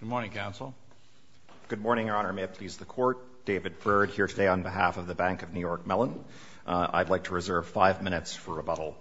Good morning, Counsel. Good morning, Your Honor. May it please the Court. David Byrd here today on behalf of the Bank of New York Mellon. I'd like to reserve five minutes for rebuttal.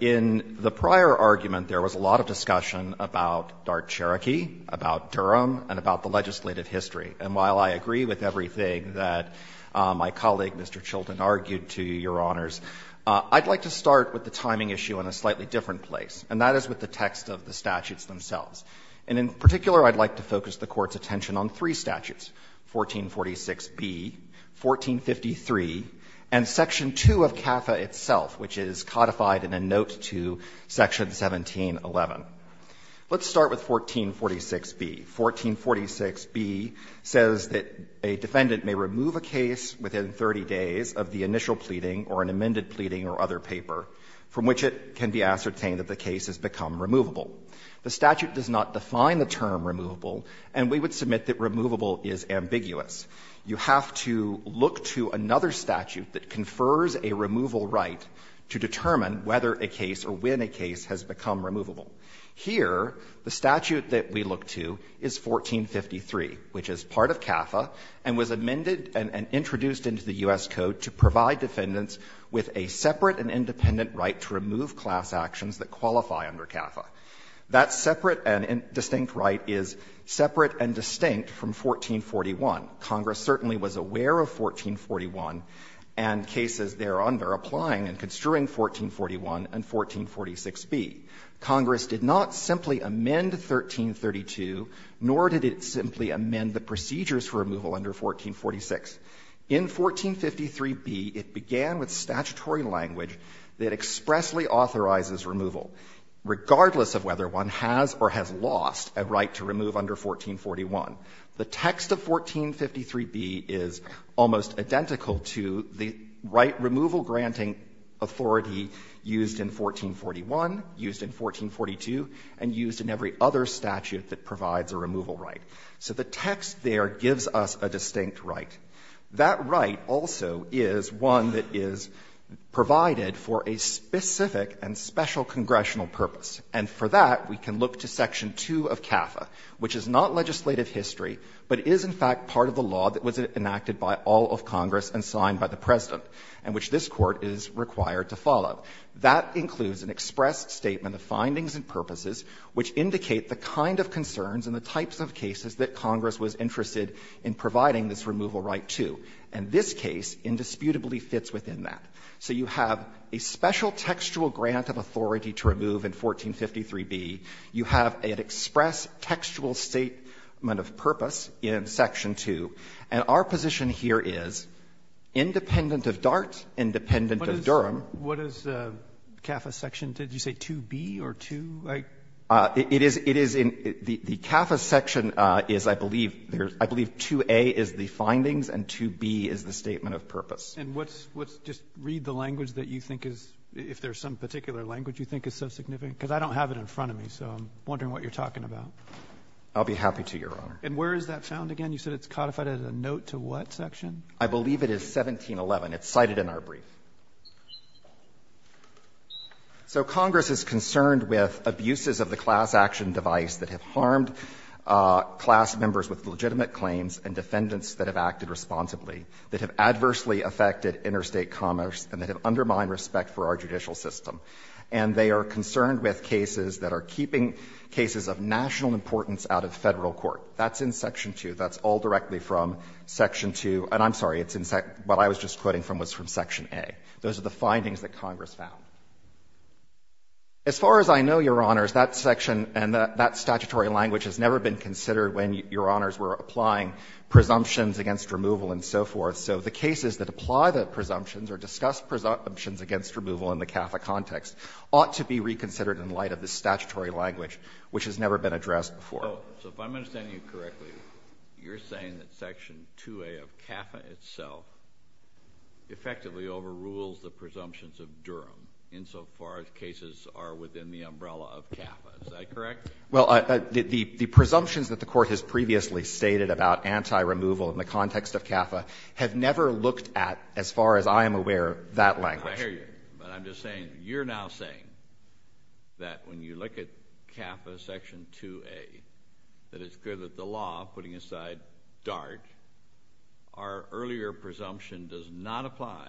In the prior argument, there was a lot of discussion about DART Cherokee, about Durham, and about the legislative history. And while I agree with everything that my colleague, Mr. Chilton, argued to Your Honors, I'd like to start with the timing issue in a slightly different place, and that is with the text of the statutes themselves. And in particular, I'd like to focus the Court's attention on three statutes, 1446B, 1453, and Section 2 of CAFA itself, which is codified in a note to Section 1711. Let's start with 1446B. 1446B says that a defendant may remove a case within 30 days of the initial pleading or an amended pleading or other paper from which it can be ascertained that the case has become removable. The statute does not define the term removable, and we would submit that removable is ambiguous. You have to look to another statute that confers a removal right to determine whether a case or when a case has become removable. Here, the statute that we look to is 1453, which is part of CAFA and was amended and introduced into the U.S. Code to provide defendants with a separate and independent right to remove class actions that qualify under CAFA. That separate and distinct right is separate and distinct from 1441. Congress certainly was aware of 1441 and cases thereunder applying and construing 1441 and 1446B. Congress did not simply amend 1332, nor did it simply amend the procedures for removal under 1446. In 1453B, it began with statutory language that expressly authorizes removal, regardless of whether one has or has lost a right to remove under 1441. The text of 1453B is almost identical to the right removal granting authority used in 1441, used in 1442, and used in every other statute that provides a removal right. So the text there gives us a distinct right. That right also is one that is provided for a specific and special congressional purpose, and for that we can look to section 2 of CAFA, which is not legislative history, but is in fact part of the law that was enacted by all of Congress and signed by the President, and which this Court is required to follow. That includes an express statement of findings and purposes which indicate the kind of concerns and the types of cases that Congress was interested in providing this removal right to, and this case indisputably fits within that. So you have a special textual grant of authority to remove in 1453B. You have an express textual statement of purpose in section 2. And our position here is, independent of DART, independent of Durham. What is the CAFA section? Did you say 2B or 2? It is in the CAFA section is, I believe, 2A is the findings and 2B is the statement of purpose. And what's just read the language that you think is, if there's some particular language you think is so significant, because I don't have it in front of me, so I'm wondering what you're talking about. I'll be happy to, Your Honor. And where is that found again? You said it's codified as a note to what section? I believe it is 1711. It's cited in our brief. So Congress is concerned with abuses of the class action device that have harmed class members with legitimate claims and defendants that have acted responsibly, that have adversely affected interstate commerce, and that have undermined respect for our judicial system. And they are concerned with cases that are keeping cases of national importance out of Federal court. That's in section 2. That's all directly from section 2. And I'm sorry. What I was just quoting from was from section A. Those are the findings that Congress found. As far as I know, Your Honors, that section and that statutory language has never been considered when Your Honors were applying presumptions against removal and so forth. So the cases that apply the presumptions or discuss presumptions against removal in the CAFA context ought to be reconsidered in light of the statutory language which has never been addressed before. So if I'm understanding you correctly, you're saying that section 2A of CAFA itself effectively overrules the presumptions of Durham insofar as cases are within the umbrella of CAFA. Is that correct? Well, the presumptions that the Court has previously stated about anti-removal in the context of CAFA have never looked at, as far as I am aware, that language. I hear you. But I'm just saying you're now saying that when you look at CAFA section 2A, that it's good that the law, putting aside DART, our earlier presumption does not apply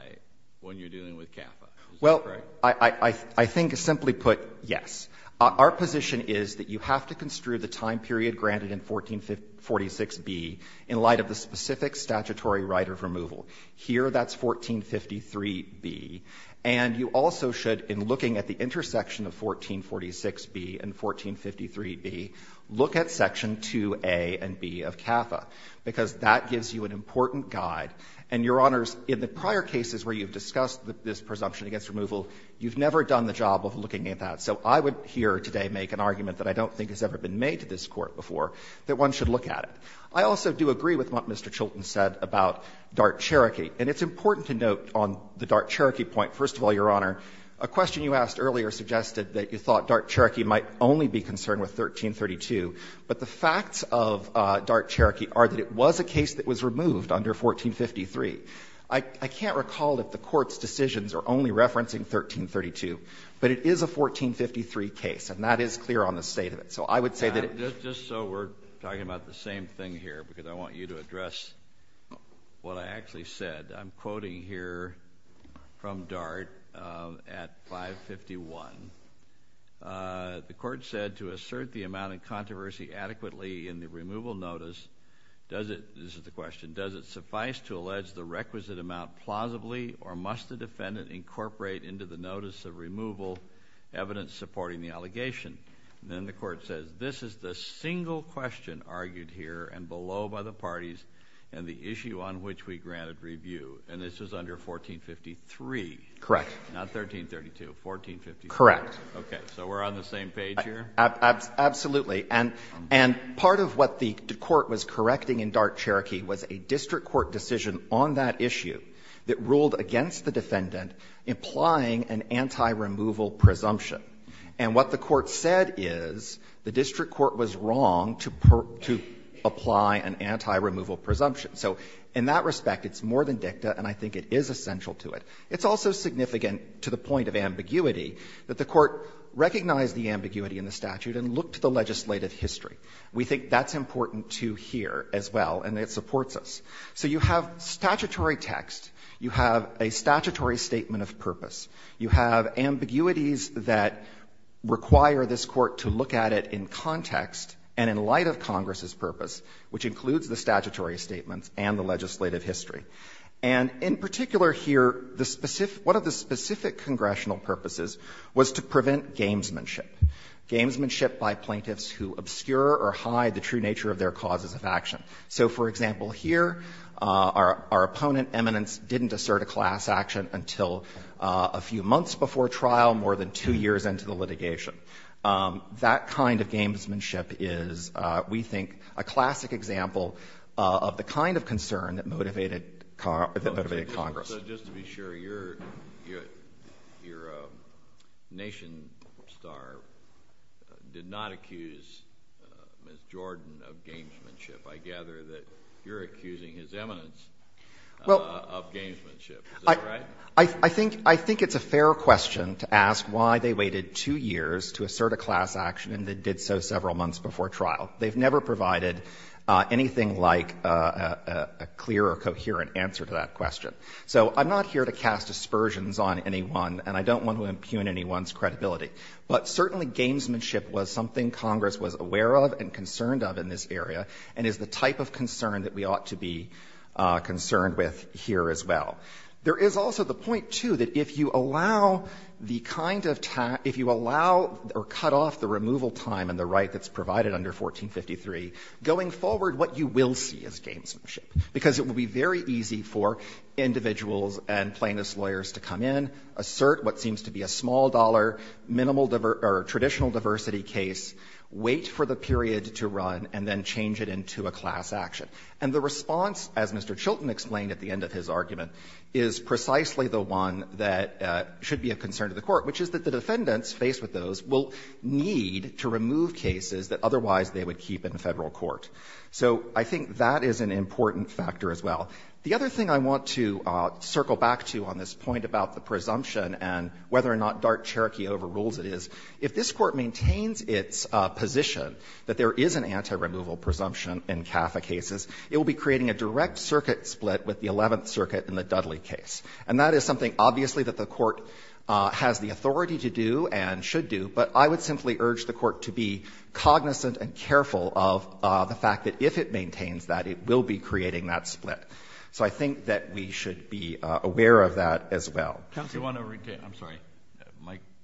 when you're dealing with CAFA. Is that correct? Well, I think simply put, yes. Our position is that you have to construe the time period granted in 1446B in light of the specific statutory right of removal. Here that's 1453B. And you also should, in looking at the intersection of 1446B and 1453B, look at section 2A and B of CAFA, because that gives you an important guide. And, Your Honors, in the prior cases where you've discussed this presumption against removal, you've never done the job of looking at that. So I would here today make an argument that I don't think has ever been made to this Court before, that one should look at it. I also do agree with what Mr. Chilton said about DART-Cherokee. And it's important to note on the DART-Cherokee point, first of all, Your Honor, a question you asked earlier suggested that you thought DART-Cherokee might only be concerned with 1332. But the facts of DART-Cherokee are that it was a case that was removed under 1453. I can't recall that the Court's decisions are only referencing 1332. But it is a 1453 case, and that is clear on the State of it. Just so we're talking about the same thing here, because I want you to address what I actually said. I'm quoting here from DART at 551. The Court said, To assert the amount in controversy adequately in the removal notice, does it, this is the question, does it suffice to allege the requisite amount plausibly, or must the defendant incorporate into the notice of removal evidence supporting the allegation? And then the Court says, This is the single question argued here and below by the parties, and the issue on which we granted review. And this was under 1453. Correct. Not 1332. 1453. Correct. Okay. So we're on the same page here? Absolutely. And part of what the Court was correcting in DART-Cherokee was a district court decision on that issue that ruled against the defendant, implying an anti-removal presumption. And what the Court said is the district court was wrong to apply an anti-removal presumption. So in that respect, it's more than dicta, and I think it is essential to it. It's also significant to the point of ambiguity that the Court recognized the ambiguity in the statute and looked to the legislative history. We think that's important to hear as well, and it supports us. So you have statutory text. You have a statutory statement of purpose. You have ambiguities that require this Court to look at it in context and in light of Congress's purpose, which includes the statutory statements and the legislative history. And in particular here, the specific — one of the specific congressional purposes was to prevent gamesmanship, gamesmanship by plaintiffs who obscure or hide the true nature of their causes of action. So, for example, here, our opponent, Eminence, didn't assert a class action until a few months before trial, more than two years into the litigation. That kind of gamesmanship is, we think, a classic example of the kind of concern that motivated Congress. So just to be sure, your nation star did not accuse Ms. Jordan of gamesmanship. I gather that you're accusing his eminence of gamesmanship. Is that right? I think it's a fair question to ask why they waited two years to assert a class action, and they did so several months before trial. They've never provided anything like a clear or coherent answer to that question. So I'm not here to cast aspersions on anyone, and I don't want to impugn anyone's credibility. But certainly gamesmanship was something Congress was aware of and concerned of in this area, and is the type of concern that we ought to be concerned with here as well. There is also the point, too, that if you allow the kind of time, if you allow or cut off the removal time in the right that's provided under 1453, going forward what you will see is gamesmanship, because it will be very easy for individuals and plaintiffs' lawyers to come in, assert what seems to be a small-dollar traditional diversity case, wait for the period to run, and then change it into a class action. And the response, as Mr. Chilton explained at the end of his argument, is precisely the one that should be a concern to the Court, which is that the defendants faced with those will need to remove cases that otherwise they would keep in Federal court. So I think that is an important factor as well. The other thing I want to circle back to on this point about the presumption and whether or not DART-Cherokee overrules it is, if this Court maintains its position that there is an anti-removal presumption in CAFA cases, it will be creating a direct circuit split with the Eleventh Circuit in the Dudley case. And that is something, obviously, that the Court has the authority to do and should do, but I would simply urge the Court to be cognizant and careful of the fact that if it maintains that, it will be creating that split. So I think that we should be aware of that as well. Kennedy. Kennedy. I'm sorry.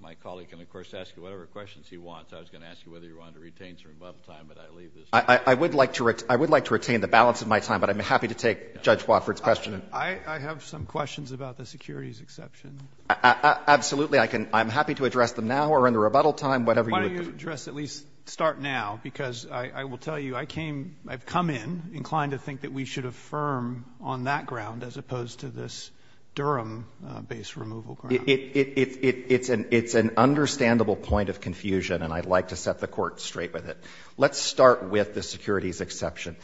My colleague can, of course, ask you whatever questions he wants. I was going to ask you whether you wanted to retain some rebuttal time, but I leave this to you. I would like to retain the balance of my time, but I'm happy to take Judge Wofford's question. I have some questions about the securities exception. Absolutely. I'm happy to address them now or in the rebuttal time, whatever you would like. Why don't you address, at least start now, because I will tell you, I came, I've come in inclined to think that we should affirm on that ground as opposed to this Durham-based removal ground. It's an understandable point of confusion, and I'd like to set the Court straight with it. Let's start with the securities exception.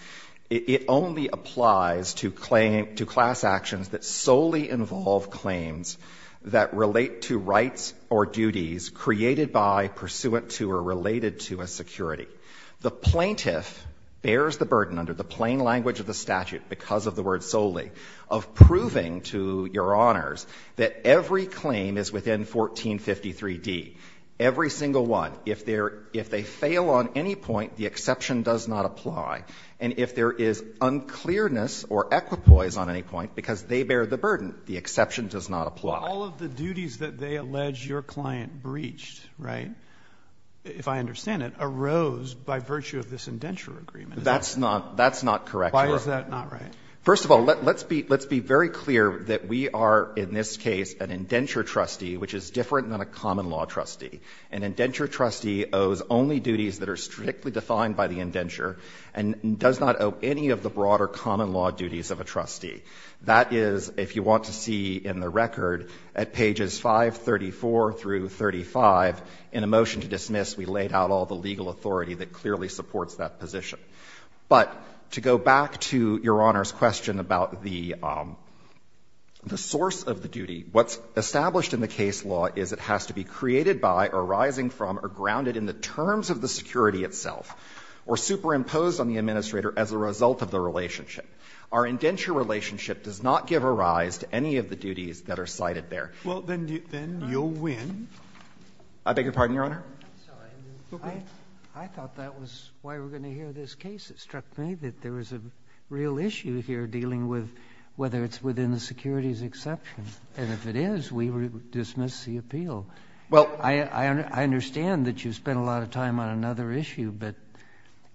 It only applies to class actions that solely involve claims that relate to rights or duties created by, pursuant to, or related to a security. The plaintiff bears the burden under the plain language of the statute because of the word solely, of proving to Your Honors that every claim is within 1453d, every single one. If they fail on any point, the exception does not apply. And if there is unclearness or equipoise on any point because they bear the burden, the exception does not apply. All of the duties that they allege your client breached, right, if I understand it, arose by virtue of this indenture agreement. That's not correct, Your Honor. Why is that not right? First of all, let's be very clear that we are, in this case, an indenture trustee, which is different than a common law trustee. An indenture trustee owes only duties that are strictly defined by the indenture and does not owe any of the broader common law duties of a trustee. That is, if you want to see in the record, at pages 534 through 35, in a motion to dismiss, we laid out all the legal authority that clearly supports that position. But to go back to Your Honor's question about the source of the duty, what's established in the case law is it has to be created by or arising from or grounded in the terms of the security itself or superimposed on the administrator as a result of the relationship. Our indenture relationship does not give a rise to any of the duties that are cited there. Scalia. Well, then you'll win. I beg your pardon, Your Honor. I thought that was why we were going to hear this case. It struck me that there was a real issue here dealing with whether it's within the securities exception. And if it is, we dismiss the appeal. Well, I understand that you spent a lot of time on another issue, but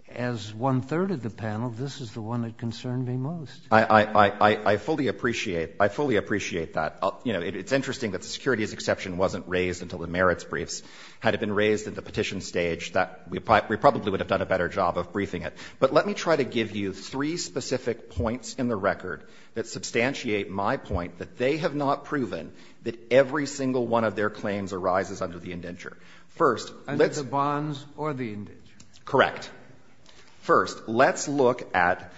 as one-third of the panel, this is the one that concerned me most. I fully appreciate that. It's interesting that the securities exception wasn't raised until the merits were raised at the petition stage. We probably would have done a better job of briefing it. But let me try to give you three specific points in the record that substantiate my point that they have not proven that every single one of their claims arises under the indenture. First, let's. And it's the bonds or the indenture? Correct. First, let's look at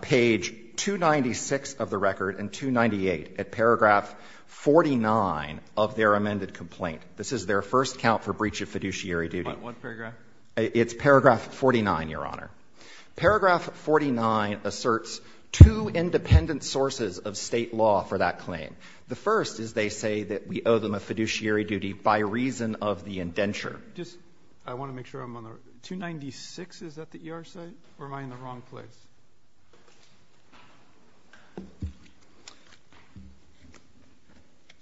page 296 of the record and 298 at paragraph 49 of their amended complaint. This is their first count for breach of fiduciary duty. What paragraph? It's paragraph 49, Your Honor. Paragraph 49 asserts two independent sources of State law for that claim. The first is they say that we owe them a fiduciary duty by reason of the indenture. I want to make sure I'm on the right. 296, is that the ER site, or am I in the wrong place?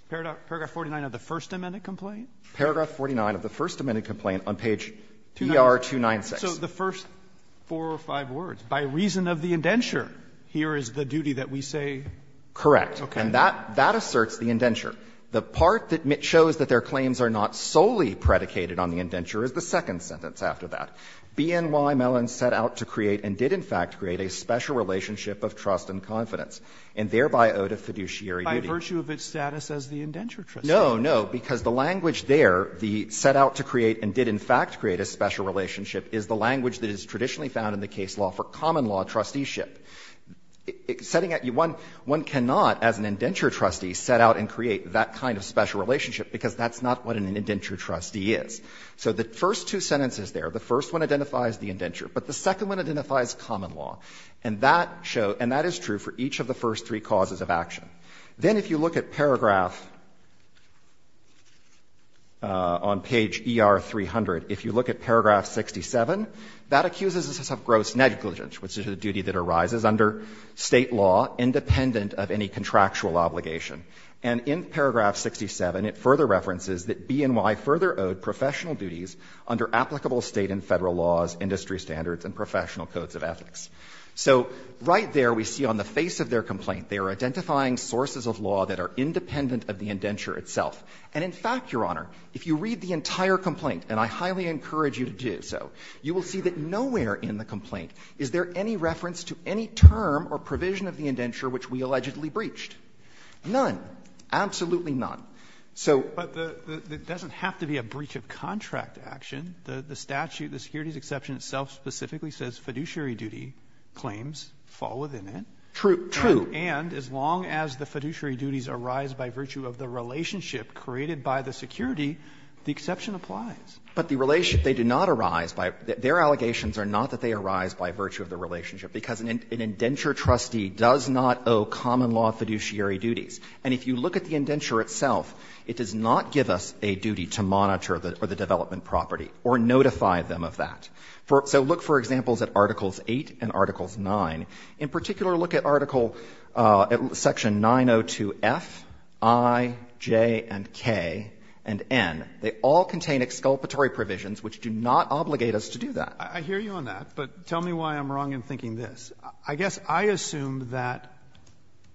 Paragraph 49 of the first amended complaint? Paragraph 49 of the first amended complaint on page ER-296. So the first four or five words, by reason of the indenture, here is the duty that we say? Correct. And that asserts the indenture. The part that shows that their claims are not solely predicated on the indenture is the second sentence after that. BNY Mellon set out to create and did, in fact, create a special relationship of trust and confidence, and thereby owed a fiduciary duty. By virtue of its status as the indenture trustee. No, no, because the language there, the set out to create and did, in fact, create a special relationship, is the language that is traditionally found in the case law for common law trusteeship. Setting out, one cannot, as an indenture trustee, set out and create that kind of special relationship, because that's not what an indenture trustee is. So the first two sentences there, the first one identifies the indenture, but the second one identifies common law. And that shows, and that is true for each of the first three causes of action. Then if you look at paragraph on page ER-300, if you look at paragraph 67, that accuses us of gross negligence, which is a duty that arises under State law, independent of any contractual obligation. And in paragraph 67, it further references that BNY further owed professional duties under applicable State and Federal laws, industry standards, and professional codes of ethics. So right there, we see on the face of their complaint, they are identifying sources of law that are independent of the indenture itself. And in fact, Your Honor, if you read the entire complaint, and I highly encourage you to do so, you will see that nowhere in the complaint is there any reference to any term or provision of the indenture which we allegedly breached. None. Absolutely none. So. Roberts. But it doesn't have to be a breach of contract action. The statute, the securities exception itself specifically says fiduciary duty claims fall within it. True. True. And as long as the fiduciary duties arise by virtue of the relationship created by the security, the exception applies. But the relationship, they do not arise by their allegations are not that they arise by virtue of the relationship, because an indenture trustee does not owe common law fiduciary duties. And if you look at the indenture itself, it does not give us a duty to monitor the development property or notify them of that. So look, for example, at Articles 8 and Articles 9. In particular, look at Article Section 902F, I, J, and K, and N. They all contain exculpatory provisions which do not obligate us to do that. I hear you on that, but tell me why I'm wrong in thinking this. I guess I assume that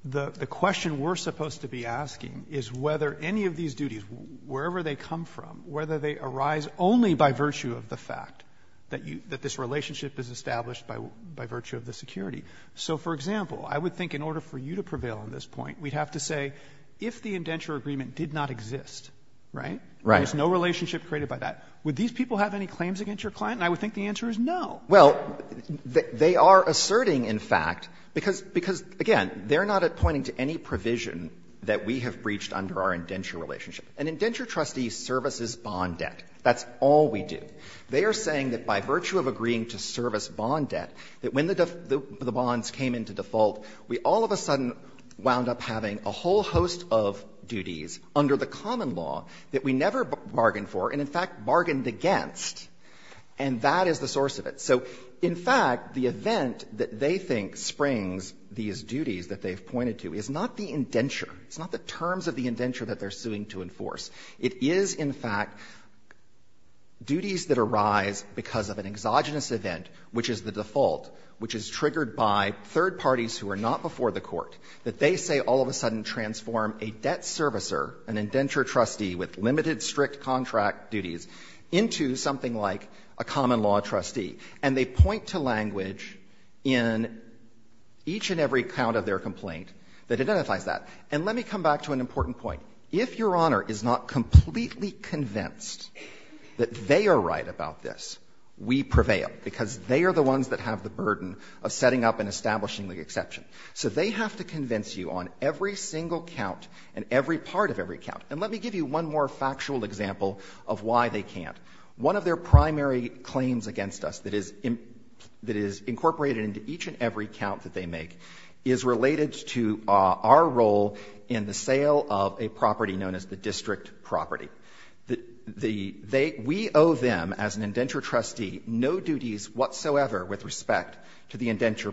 the question we're supposed to be asking is whether any of these duties, wherever they come from, whether they arise only by virtue of the fact that this relationship is established by virtue of the security. So, for example, I would think in order for you to prevail on this point, we'd have to say if the indenture agreement did not exist, right? Right. There's no relationship created by that. Would these people have any claims against your client? And I would think the answer is no. Well, they are asserting, in fact, because, again, they're not pointing to any provision that we have breached under our indenture relationship. An indenture trustee services bond debt. That's all we do. They are saying that by virtue of agreeing to service bond debt, that when the bonds came into default, we all of a sudden wound up having a whole host of duties under the common law that we never bargained for and, in fact, bargained against. And that is the source of it. So, in fact, the event that they think springs these duties that they've pointed to is not the indenture. It's not the terms of the indenture that they're suing to enforce. It is, in fact, duties that arise because of an exogenous event, which is the default, which is triggered by third parties who are not before the Court, that they say all of a sudden transform a debt servicer, an indenture trustee with limited strict contract duties, into something like a common law trustee. And they point to language in each and every count of their complaint that identifies that. And let me come back to an important point. If Your Honor is not completely convinced that they are right about this, we prevail, because they are the ones that have the burden of setting up and establishing the exception. So they have to convince you on every single count and every part of every count. And let me give you one more factual example of why they can't. One of their primary claims against us that is incorporated into each and every count that they make is related to our role in the sale of a property known as the district property. We owe them, as an indenture trustee, no duties whatsoever with respect to the indenture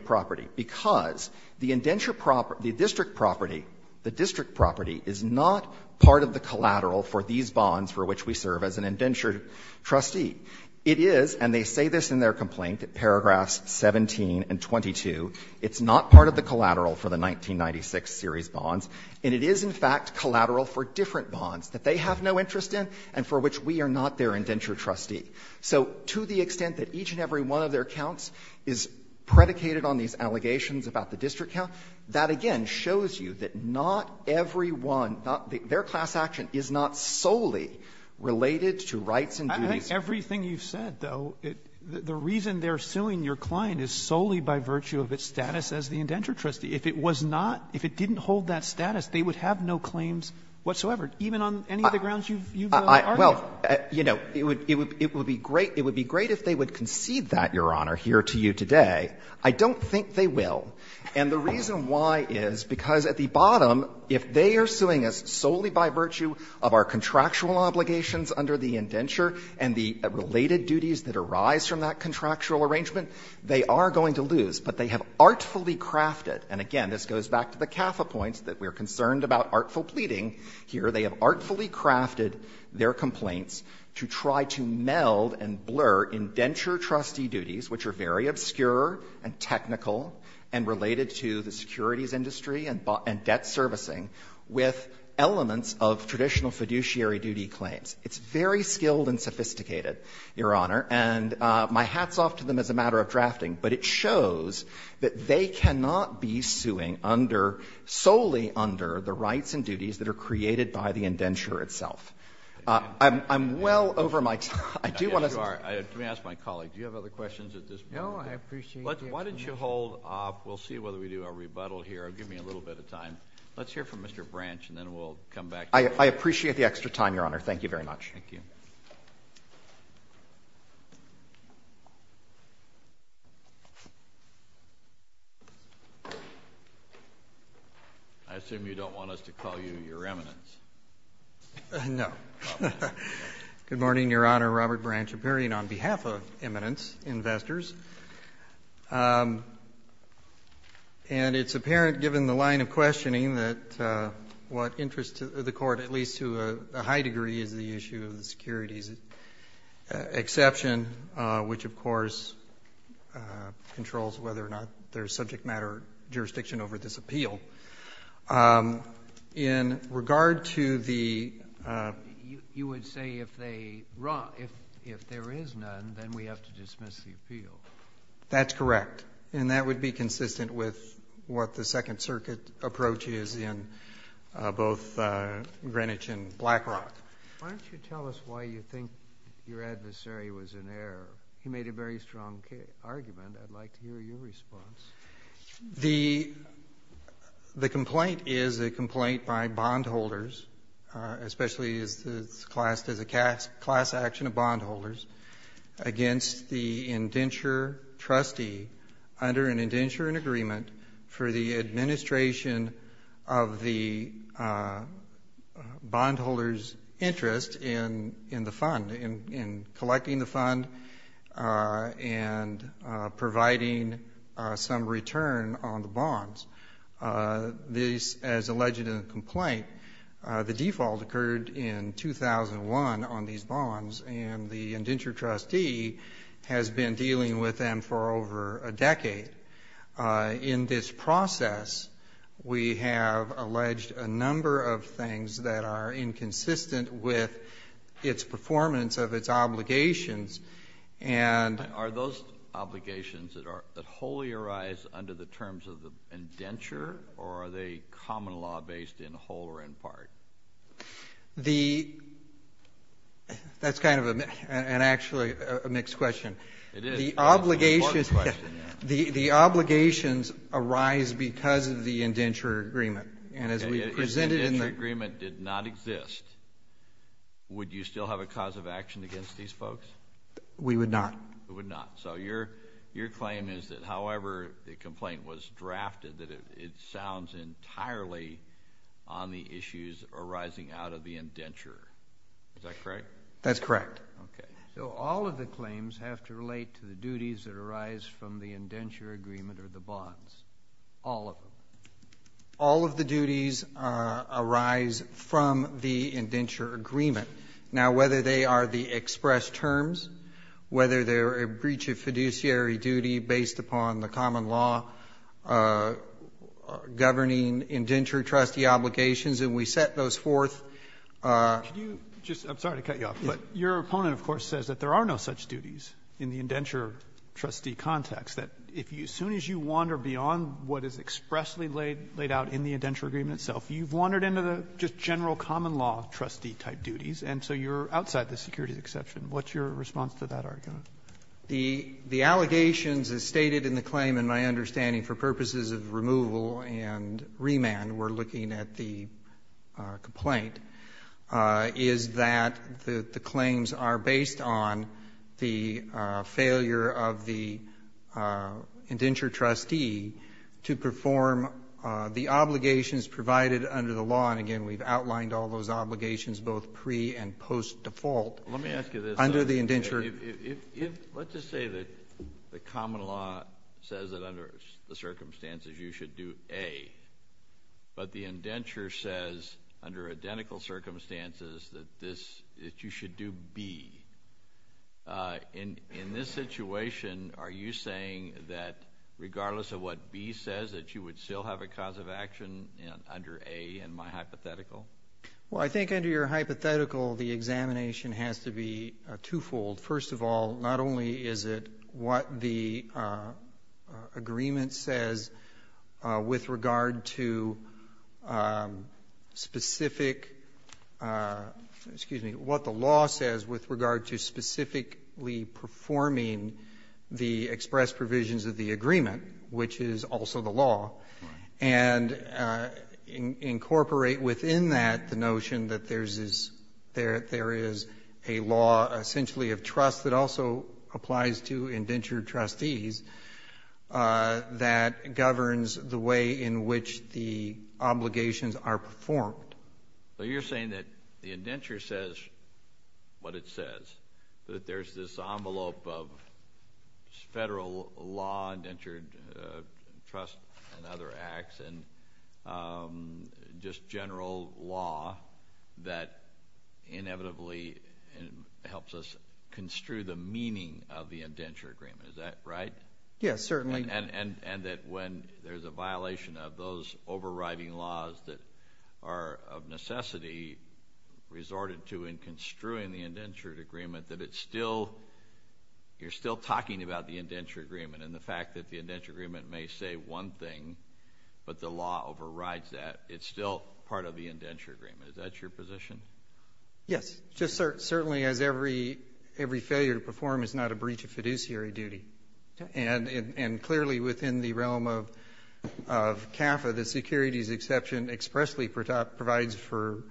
trustee. It is, and they say this in their complaint at paragraphs 17 and 22, it's not part of the collateral for the 1996 series bonds, and it is, in fact, collateral for different bonds that they have no interest in and for which we are not their indenture trustee. So to the extent that each and every one of their counts is predicated on these allegations about the district count, that again shows you that not every one, not every one, their class action is not solely related to rights and duties. I think everything you've said, though, the reason they're suing your client is solely by virtue of its status as the indenture trustee. If it was not, if it didn't hold that status, they would have no claims whatsoever, even on any of the grounds you've argued. Well, you know, it would be great if they would concede that, Your Honor, here to you today. I don't think they will. And the reason why is because at the bottom, if they are suing us solely by virtue of our contractual obligations under the indenture and the related duties that arise from that contractual arrangement, they are going to lose. But they have artfully crafted, and again, this goes back to the CAFA points that we are concerned about artful pleading here. They have artfully crafted their complaints to try to meld and blur indenture trustee duties, which are very obscure and technical and related to the securities industry and debt servicing, with elements of traditional fiduciary duty claims. It's very skilled and sophisticated, Your Honor. And my hat's off to them as a matter of drafting, but it shows that they cannot be suing under, solely under, the rights and duties that are created by the indenture itself. I'm well over my time. I do want to say. Let me ask my colleague. Do you have other questions at this point? No, I appreciate your question. Why don't you hold off? We'll see whether we do a rebuttal here. Give me a little bit of time. Let's hear from Mr. Branch, and then we'll come back. I appreciate the extra time, Your Honor. Thank you very much. Thank you. I assume you don't want us to call you your remnants. No. Good morning, Your Honor. Robert Branch, appearing on behalf of eminence investors. And it's apparent, given the line of questioning, that what interests the court, at least to a high degree, is the issue of the securities exception, which, of course, controls whether or not there's subject matter jurisdiction over this appeal. In regard to the... You would say if there is none, then we have to dismiss the appeal. That's correct. And that would be consistent with what the Second Circuit approach is in both Greenwich and BlackRock. Why don't you tell us why you think your adversary was in error? He made a very strong argument. I'd like to hear your response. The complaint is a complaint by bondholders, especially as it's classed as a class action of bondholders, against the indenture trustee under an indenture and agreement for the administration of the bondholder's interest in the fund, in collecting the fund and providing some return on the bonds. As alleged in the complaint, the default occurred in 2001 on these bonds, and the indenture trustee has been dealing with them for over a decade. In this process, we have alleged a number of things that are inconsistent with its performance of its obligations. Are those obligations that wholly arise under the terms of the indenture, or are they common law based in whole or in part? That's actually a mixed question. It is. The obligations arise because of the indenture agreement. If the indenture agreement did not exist, would you still have a cause of action against these folks? We would not. You would not. So your claim is that however the complaint was drafted, that it sounds entirely on the issues arising out of the indenture. Is that correct? That's correct. So all of the claims have to relate to the duties that arise from the indenture agreement or the bonds. All of them. All of the duties arise from the indenture agreement. Now, whether they are the express terms, whether they're a breach of fiduciary duty based upon the common law governing indenture trustee obligations, and we set those forth. I'm sorry to cut you off, but your opponent, of course, says that there are no such duties in the indenture trustee context. As soon as you wander beyond what is expressly laid out in the indenture agreement itself, you've wandered into the just general common law trustee type duties, and so you're outside the securities exception. What's your response to that argument? The allegations as stated in the claim, in my understanding for purposes of removal and remand, we're looking at the complaint, is that the claims are based on the failure of the indenture trustee to perform the obligations provided under the law, and again, we've outlined all those obligations both pre- and post-default. Let me ask you this. Under the indenture... Let's just say that the common law says that under the circumstances you should do A, but the indenture says under identical circumstances that you should do B. In this situation, are you saying that regardless of what B says, that you would still have a cause of action under A in my hypothetical? Well, I think under your hypothetical, the examination has to be twofold. First of all, not only is it what the agreement says with regard to specific... Excuse me. What the law says with regard to specifically performing the express provisions of the agreement, which is also the law, and incorporate within that the notion that there is a law essentially of trust that also applies to indenture trustees that governs the way in which the obligations are performed. So you're saying that the indenture says what it says, that there's this envelope of federal law, indentured trust, and other acts, and just general law that inevitably helps us construe the meaning of the indenture agreement. Is that right? Yes, certainly. And that when there's a violation of those overriding laws that are of necessity resorted to in construing the indentured agreement, that it's still... You're still talking about the indenture agreement and the fact that the indenture agreement may say one thing, but the law overrides that. It's still part of the indenture agreement. Is that your position? Yes. Just certainly as every failure to perform is not a breach of fiduciary duty. And clearly within the realm of CAFA, the securities exception expressly provides for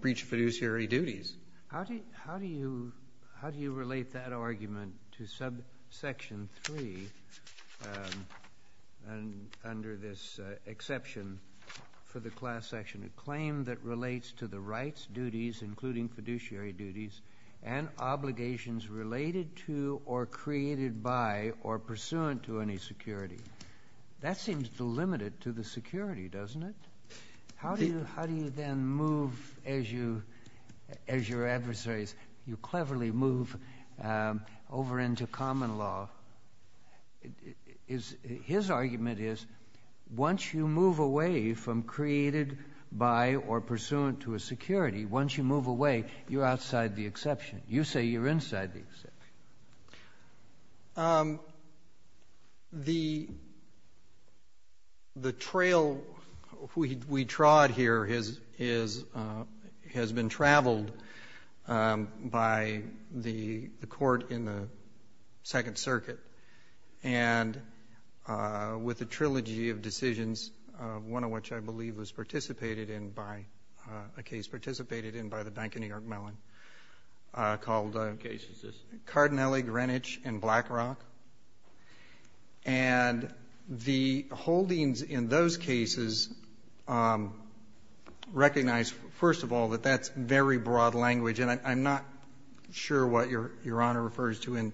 breach of fiduciary duties. How do you relate that argument to subsection 3 under this exception for the class section? A claim that relates to the rights, duties, including fiduciary duties, and obligations related to or created by or pursuant to any security. That seems to limit it to the security, doesn't it? How do you then move as your adversaries, you cleverly move over into common law? His argument is once you move away from created by or pursuant to a security, once you move away, you're outside the exception. You say you're inside the exception. Um, the the trail we trod here has been traveled by the court in the Second Circuit and with a trilogy of decisions one of which I believe was participated in a case participated in by the Bank of New York Mellon called Cardinale, Greenwich, and Blackrock. And the holdings in those cases recognize, first of all, that that's very broad language and I'm not sure what Your Honor refers to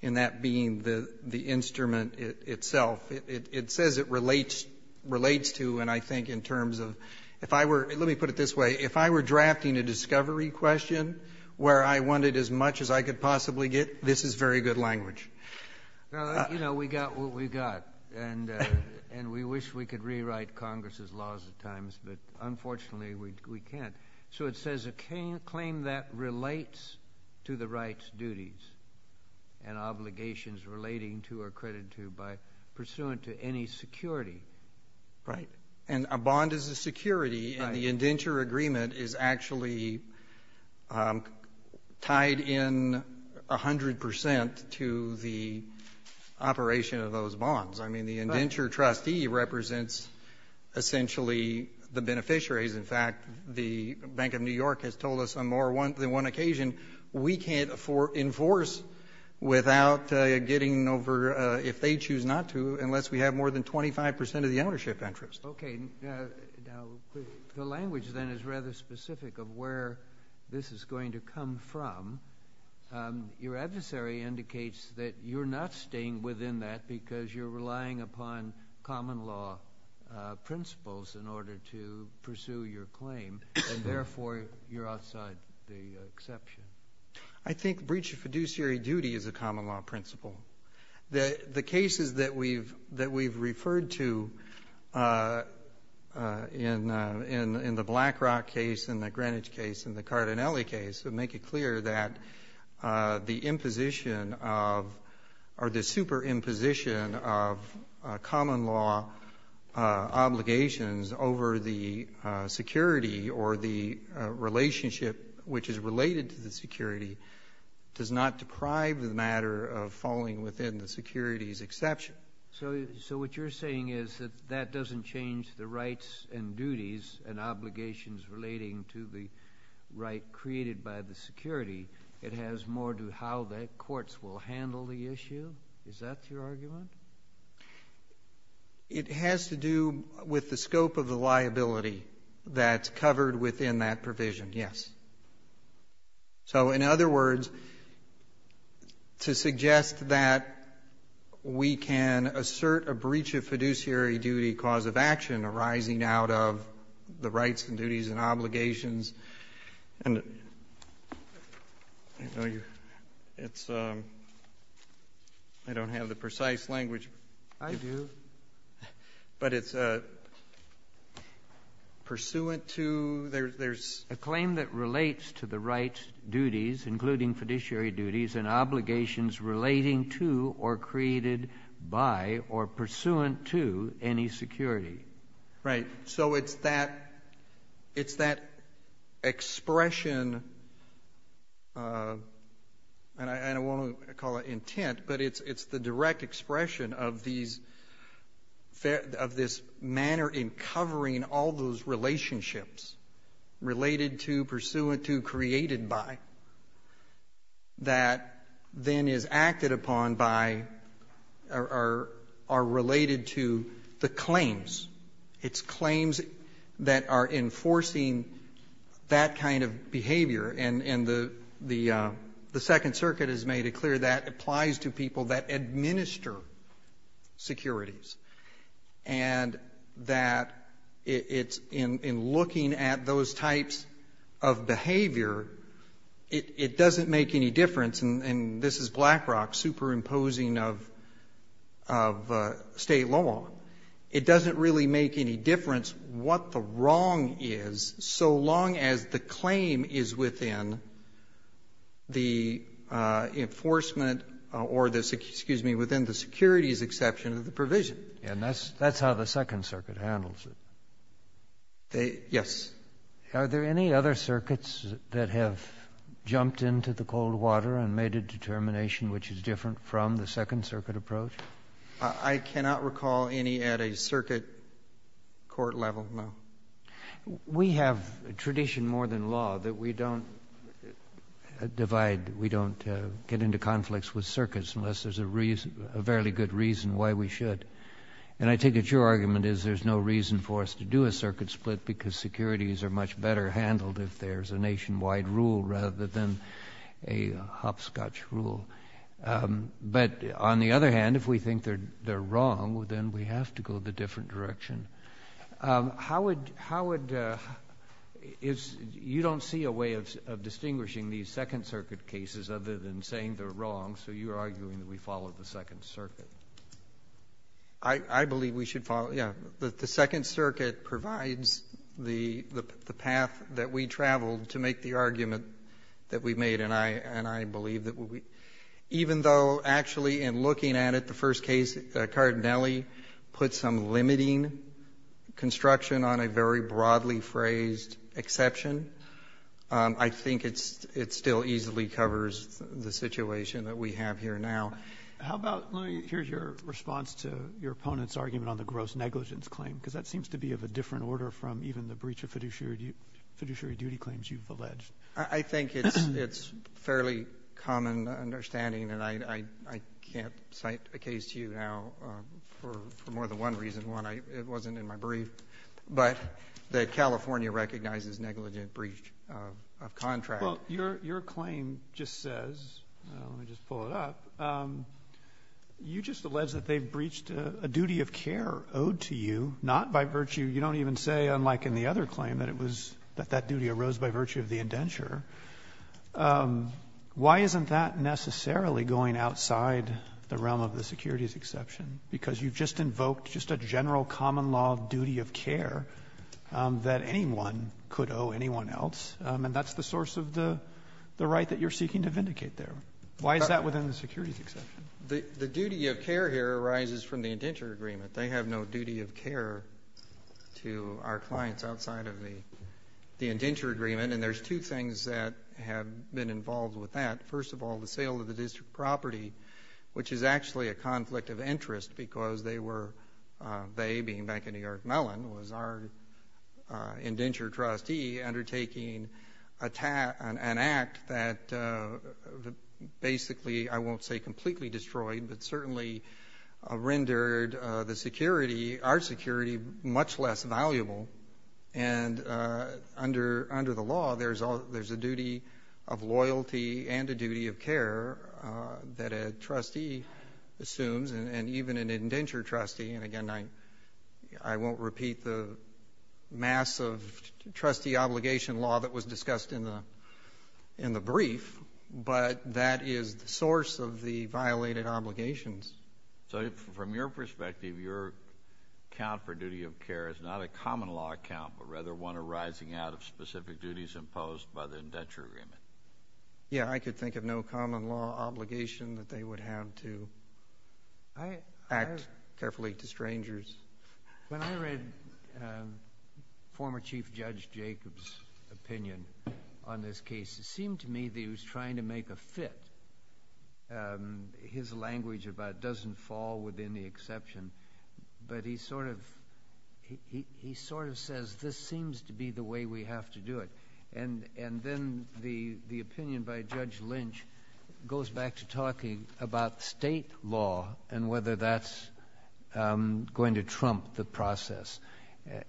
in that being the instrument itself. It says it relates to and I think in terms of let me put it this way, if I were drafting a discovery question where I wanted as much as I could possibly get this is very good language. You know, we got what we got and we wish we could rewrite Congress' laws at times but unfortunately we can't. So it says a claim that relates to the rights, duties, and obligations relating to or credited to by pursuant to any security. Right. And a bond is a security and the indenture agreement is actually tied in 100% to the operation of those bonds. I mean, the indenture trustee represents essentially the beneficiaries. In fact, the Bank of New York has told us on more than one occasion we can't enforce without getting over if they choose not to unless we have more than 25% of the ownership interest. Okay. The language then is rather specific of where this is going to come from. Your adversary indicates that you're not staying within that because you're relying upon common law principles in order to pursue your claim and therefore you're outside the exception. I think breach of fiduciary duty is a The cases that we've referred to in the Blackrock case, in the Greenwich case, in the Cardinale case make it clear that the imposition of or the super imposition of common law obligations over the security or the relationship which is related to the security does not deprive the matter of falling within the security's exception. So what you're saying is that that doesn't change the rights and duties and obligations relating to the right created by the security it has more to how the courts will handle the issue? Is that your argument? It has to do with the scope of the liability that's covered within that provision, yes. So in other words to suggest that we can assert a breach of fiduciary duty cause of action arising out of the rights and duties and obligations and it's I don't have the precise language I do but it's pursuant to A claim that relates to the rights, duties, including fiduciary duties and obligations relating to or created by or pursuant to any security. So it's that it's that expression and I won't call it intent but it's the direct expression of these of this manner in covering all those relationships related to, pursuant to, created by that then is acted upon by or are related to the claims it's claims that are enforcing that kind of behavior and the second circuit has made it clear that applies to people that administer securities and that it's in looking at those types of behavior it doesn't make any difference and this is Blackrock superimposing of of state law. It doesn't really make any difference what the wrong is so long as the claim is within the enforcement or the, excuse me, within the securities exception of the provision. And that's how the second circuit handles it. Yes. Are there any other circuits that have jumped into the cold water and made a determination which is different from the second circuit approach? I cannot recall any at a circuit court level no. We have a tradition more than law that we don't divide we don't get into conflicts with circuits unless there's a reason a fairly good reason why we should and I take it your argument is there's no reason for us to do a circuit split because securities are much better handled if there's a nationwide rule rather than a hopscotch rule but on the other hand if we think they're wrong then we have to go the different direction How would you don't see a way of distinguishing these second circuit cases other than saying they're wrong so you're arguing that we follow the second circuit I believe we should follow the second circuit provides the path that we traveled to make the argument that we made and I believe even though actually in looking at it the first case Cardinelli put some limiting construction on a very broadly phrased exception I think it still easily covers the situation that we have here now Here's your response to your opponent's argument on the gross negligence claim because that seems to be of a different order from even the breach of fiduciary duty claims you've alleged I think it's fairly common understanding and I can't cite a case to you now for more than one reason it wasn't in my brief but that California recognizes negligent breach of contract Your claim just says let me just pull it up you just alleged that they breached a duty of care owed to you not by virtue you don't even say unlike in the other claim that that duty arose by virtue of the indenture why isn't that necessarily going outside the realm of the securities exception because you've just invoked just a general common law duty of care that anyone could owe anyone else and that's the source of the right that you're seeking to vindicate there why is that within the securities exception the duty of care here arises from the indenture agreement they have no duty of care to our clients outside of the indenture agreement and there's two things that have been involved with that first of all the sale of the district property which is actually a conflict of interest because they were they being Bank of New York Mellon was our indenture trustee undertaking an act that basically I won't say completely destroyed but certainly rendered the security our security much less valuable and under the law there's a duty of loyalty and a duty of care that a trustee assumes and even an indenture trustee and again I won't repeat the massive trustee obligation law that was discussed in the brief but that is the source of the violated obligations so from your perspective your account for duty of care is not a common law account but rather one arising out of specific duties imposed by the indenture agreement yeah I could think of no common law obligation that they would have to act carefully to strangers when I read former Chief Judge Jacobs opinion on this case it seemed to me that he was trying to make a fit his language about doesn't fall within the exception but he sort of he sort of says this seems to be the way we have to do it and then the opinion by Judge Lynch goes back to talking about state law and whether that's going to trump the process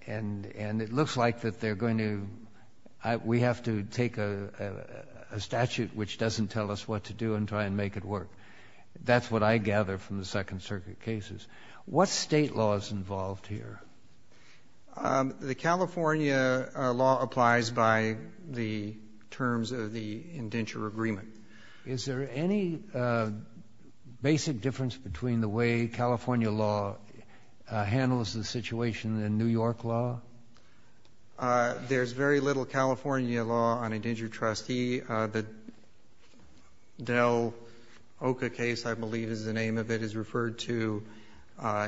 and it looks like that they're going to we have to take a statute which doesn't tell us what to do and try and make it work that's what I gather from the second circuit cases what state law is involved here the California law applies by the terms of the indenture agreement is there any basic difference between the way California law handles the situation and New York law there's very little California law on indenture trustee the Del Oca case I believe is the name of it is referred to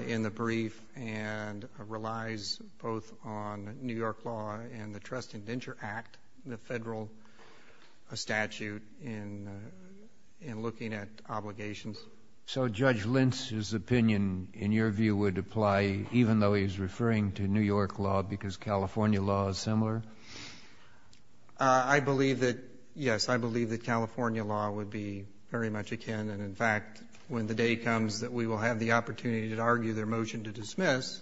in the brief and relies both on New York law and the trust indenture act the federal statute in looking at obligations so Judge Lynch his opinion in your view would apply even though he's referring to New York law because California law is similar I believe that yes I believe that California law would be very much akin and in fact when the day comes that we will have the opportunity to argue their motion to dismiss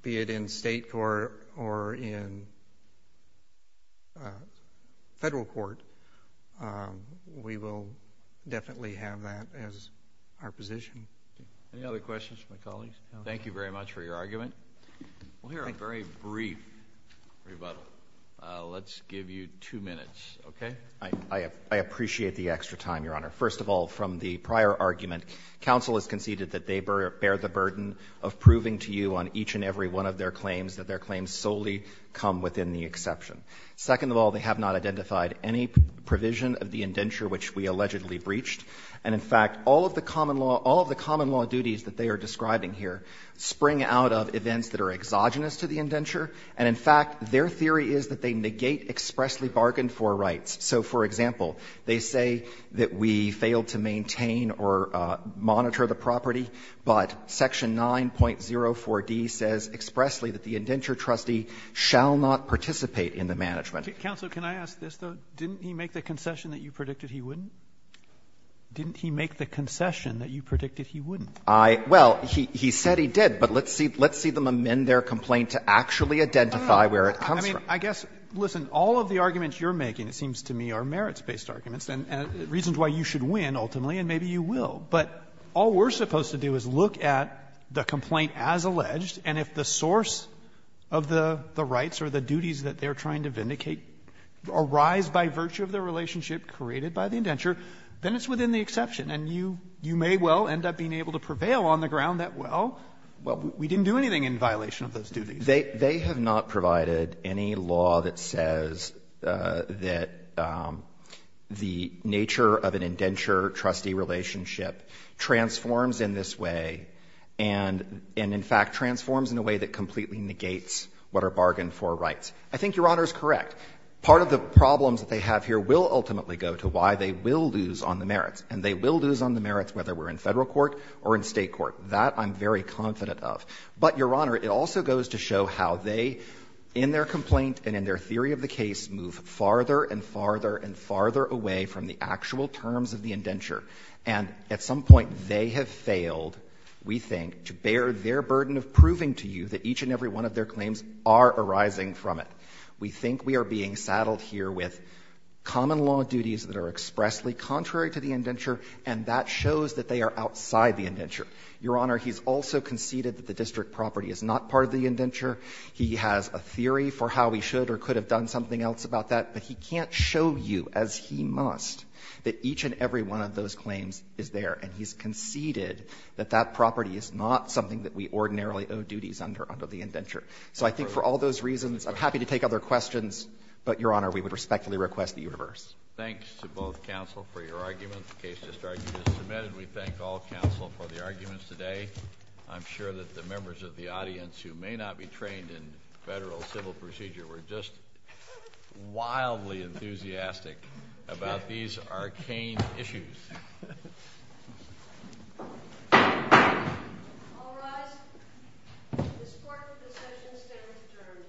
be it in state court or in federal court we will definitely have that as our position any other questions from my colleagues thank you very much for your argument we'll hear a very brief rebuttal let's give you two minutes okay I appreciate the extra time your honor first of all from the prior argument council has conceded that they bear the burden of proving to you on each and every one of their claims that their claims solely come within the exception second of all they have not identified any provision of the indenture which we allegedly breached and in fact all of the common law all of the common law duties that they are describing here spring out of events that are exogenous to the indenture and in fact their theory is that they negate expressly bargained for rights so for example they say that we failed to maintain or monitor the property but section 9.04 D says expressly that the indenture trustee shall not participate in the management counsel can I ask this though didn't he make the concession that you predicted he wouldn't didn't he make the concession that you predicted he wouldn't I well he said he did but let's see let's see them amend their complaint to actually identify where it comes from I guess listen all of the arguments you're making it seems to me are merits based arguments and reasons why you should win ultimately and maybe you will but all we're supposed to do is look at the complaint as alleged and if the source of the rights or the duties that they're trying to vindicate arise by virtue of their relationship created by the indenture then it's within the exception and you may well end up being able to prevail on the ground that well we didn't do anything in violation of those duties they have not provided any law that says that the nature of an indenture trustee relationship transforms in this way and in fact transforms in a way that completely negates what are bargained for rights I think your honor is correct part of the problems that they have here will ultimately go to why they will lose on the merits and they will lose on the merits whether we're in federal court or in state court that I'm very confident of but your honor it also goes to show how they in their complaint and in their theory of the case move farther and farther and farther away from the actual terms of the indenture and at some point they have failed we think to bear their burden of proving to you that each and every one of their claims are arising from it we think we are being saddled here with common law duties that are expressly contrary to the indenture and that shows that they are outside the indenture your honor he's also conceded that the district property is not part of the indenture he has a theory for how he should or could have done something else about that but he can't show you as he must that each and every one of those claims is there and he's conceded that that property is not something that we ordinarily owe duties under the indenture so I think for all those reasons I'm happy to take other questions but your honor we would respectfully request that you reverse thanks to both counsel for your argument the case has started to submit and we thank all counsel for the arguments today I'm sure that the members of the audience who may not be trained in federal civil procedure were just wildly enthusiastic about these arcane issues all rise this court will procession stand adjourned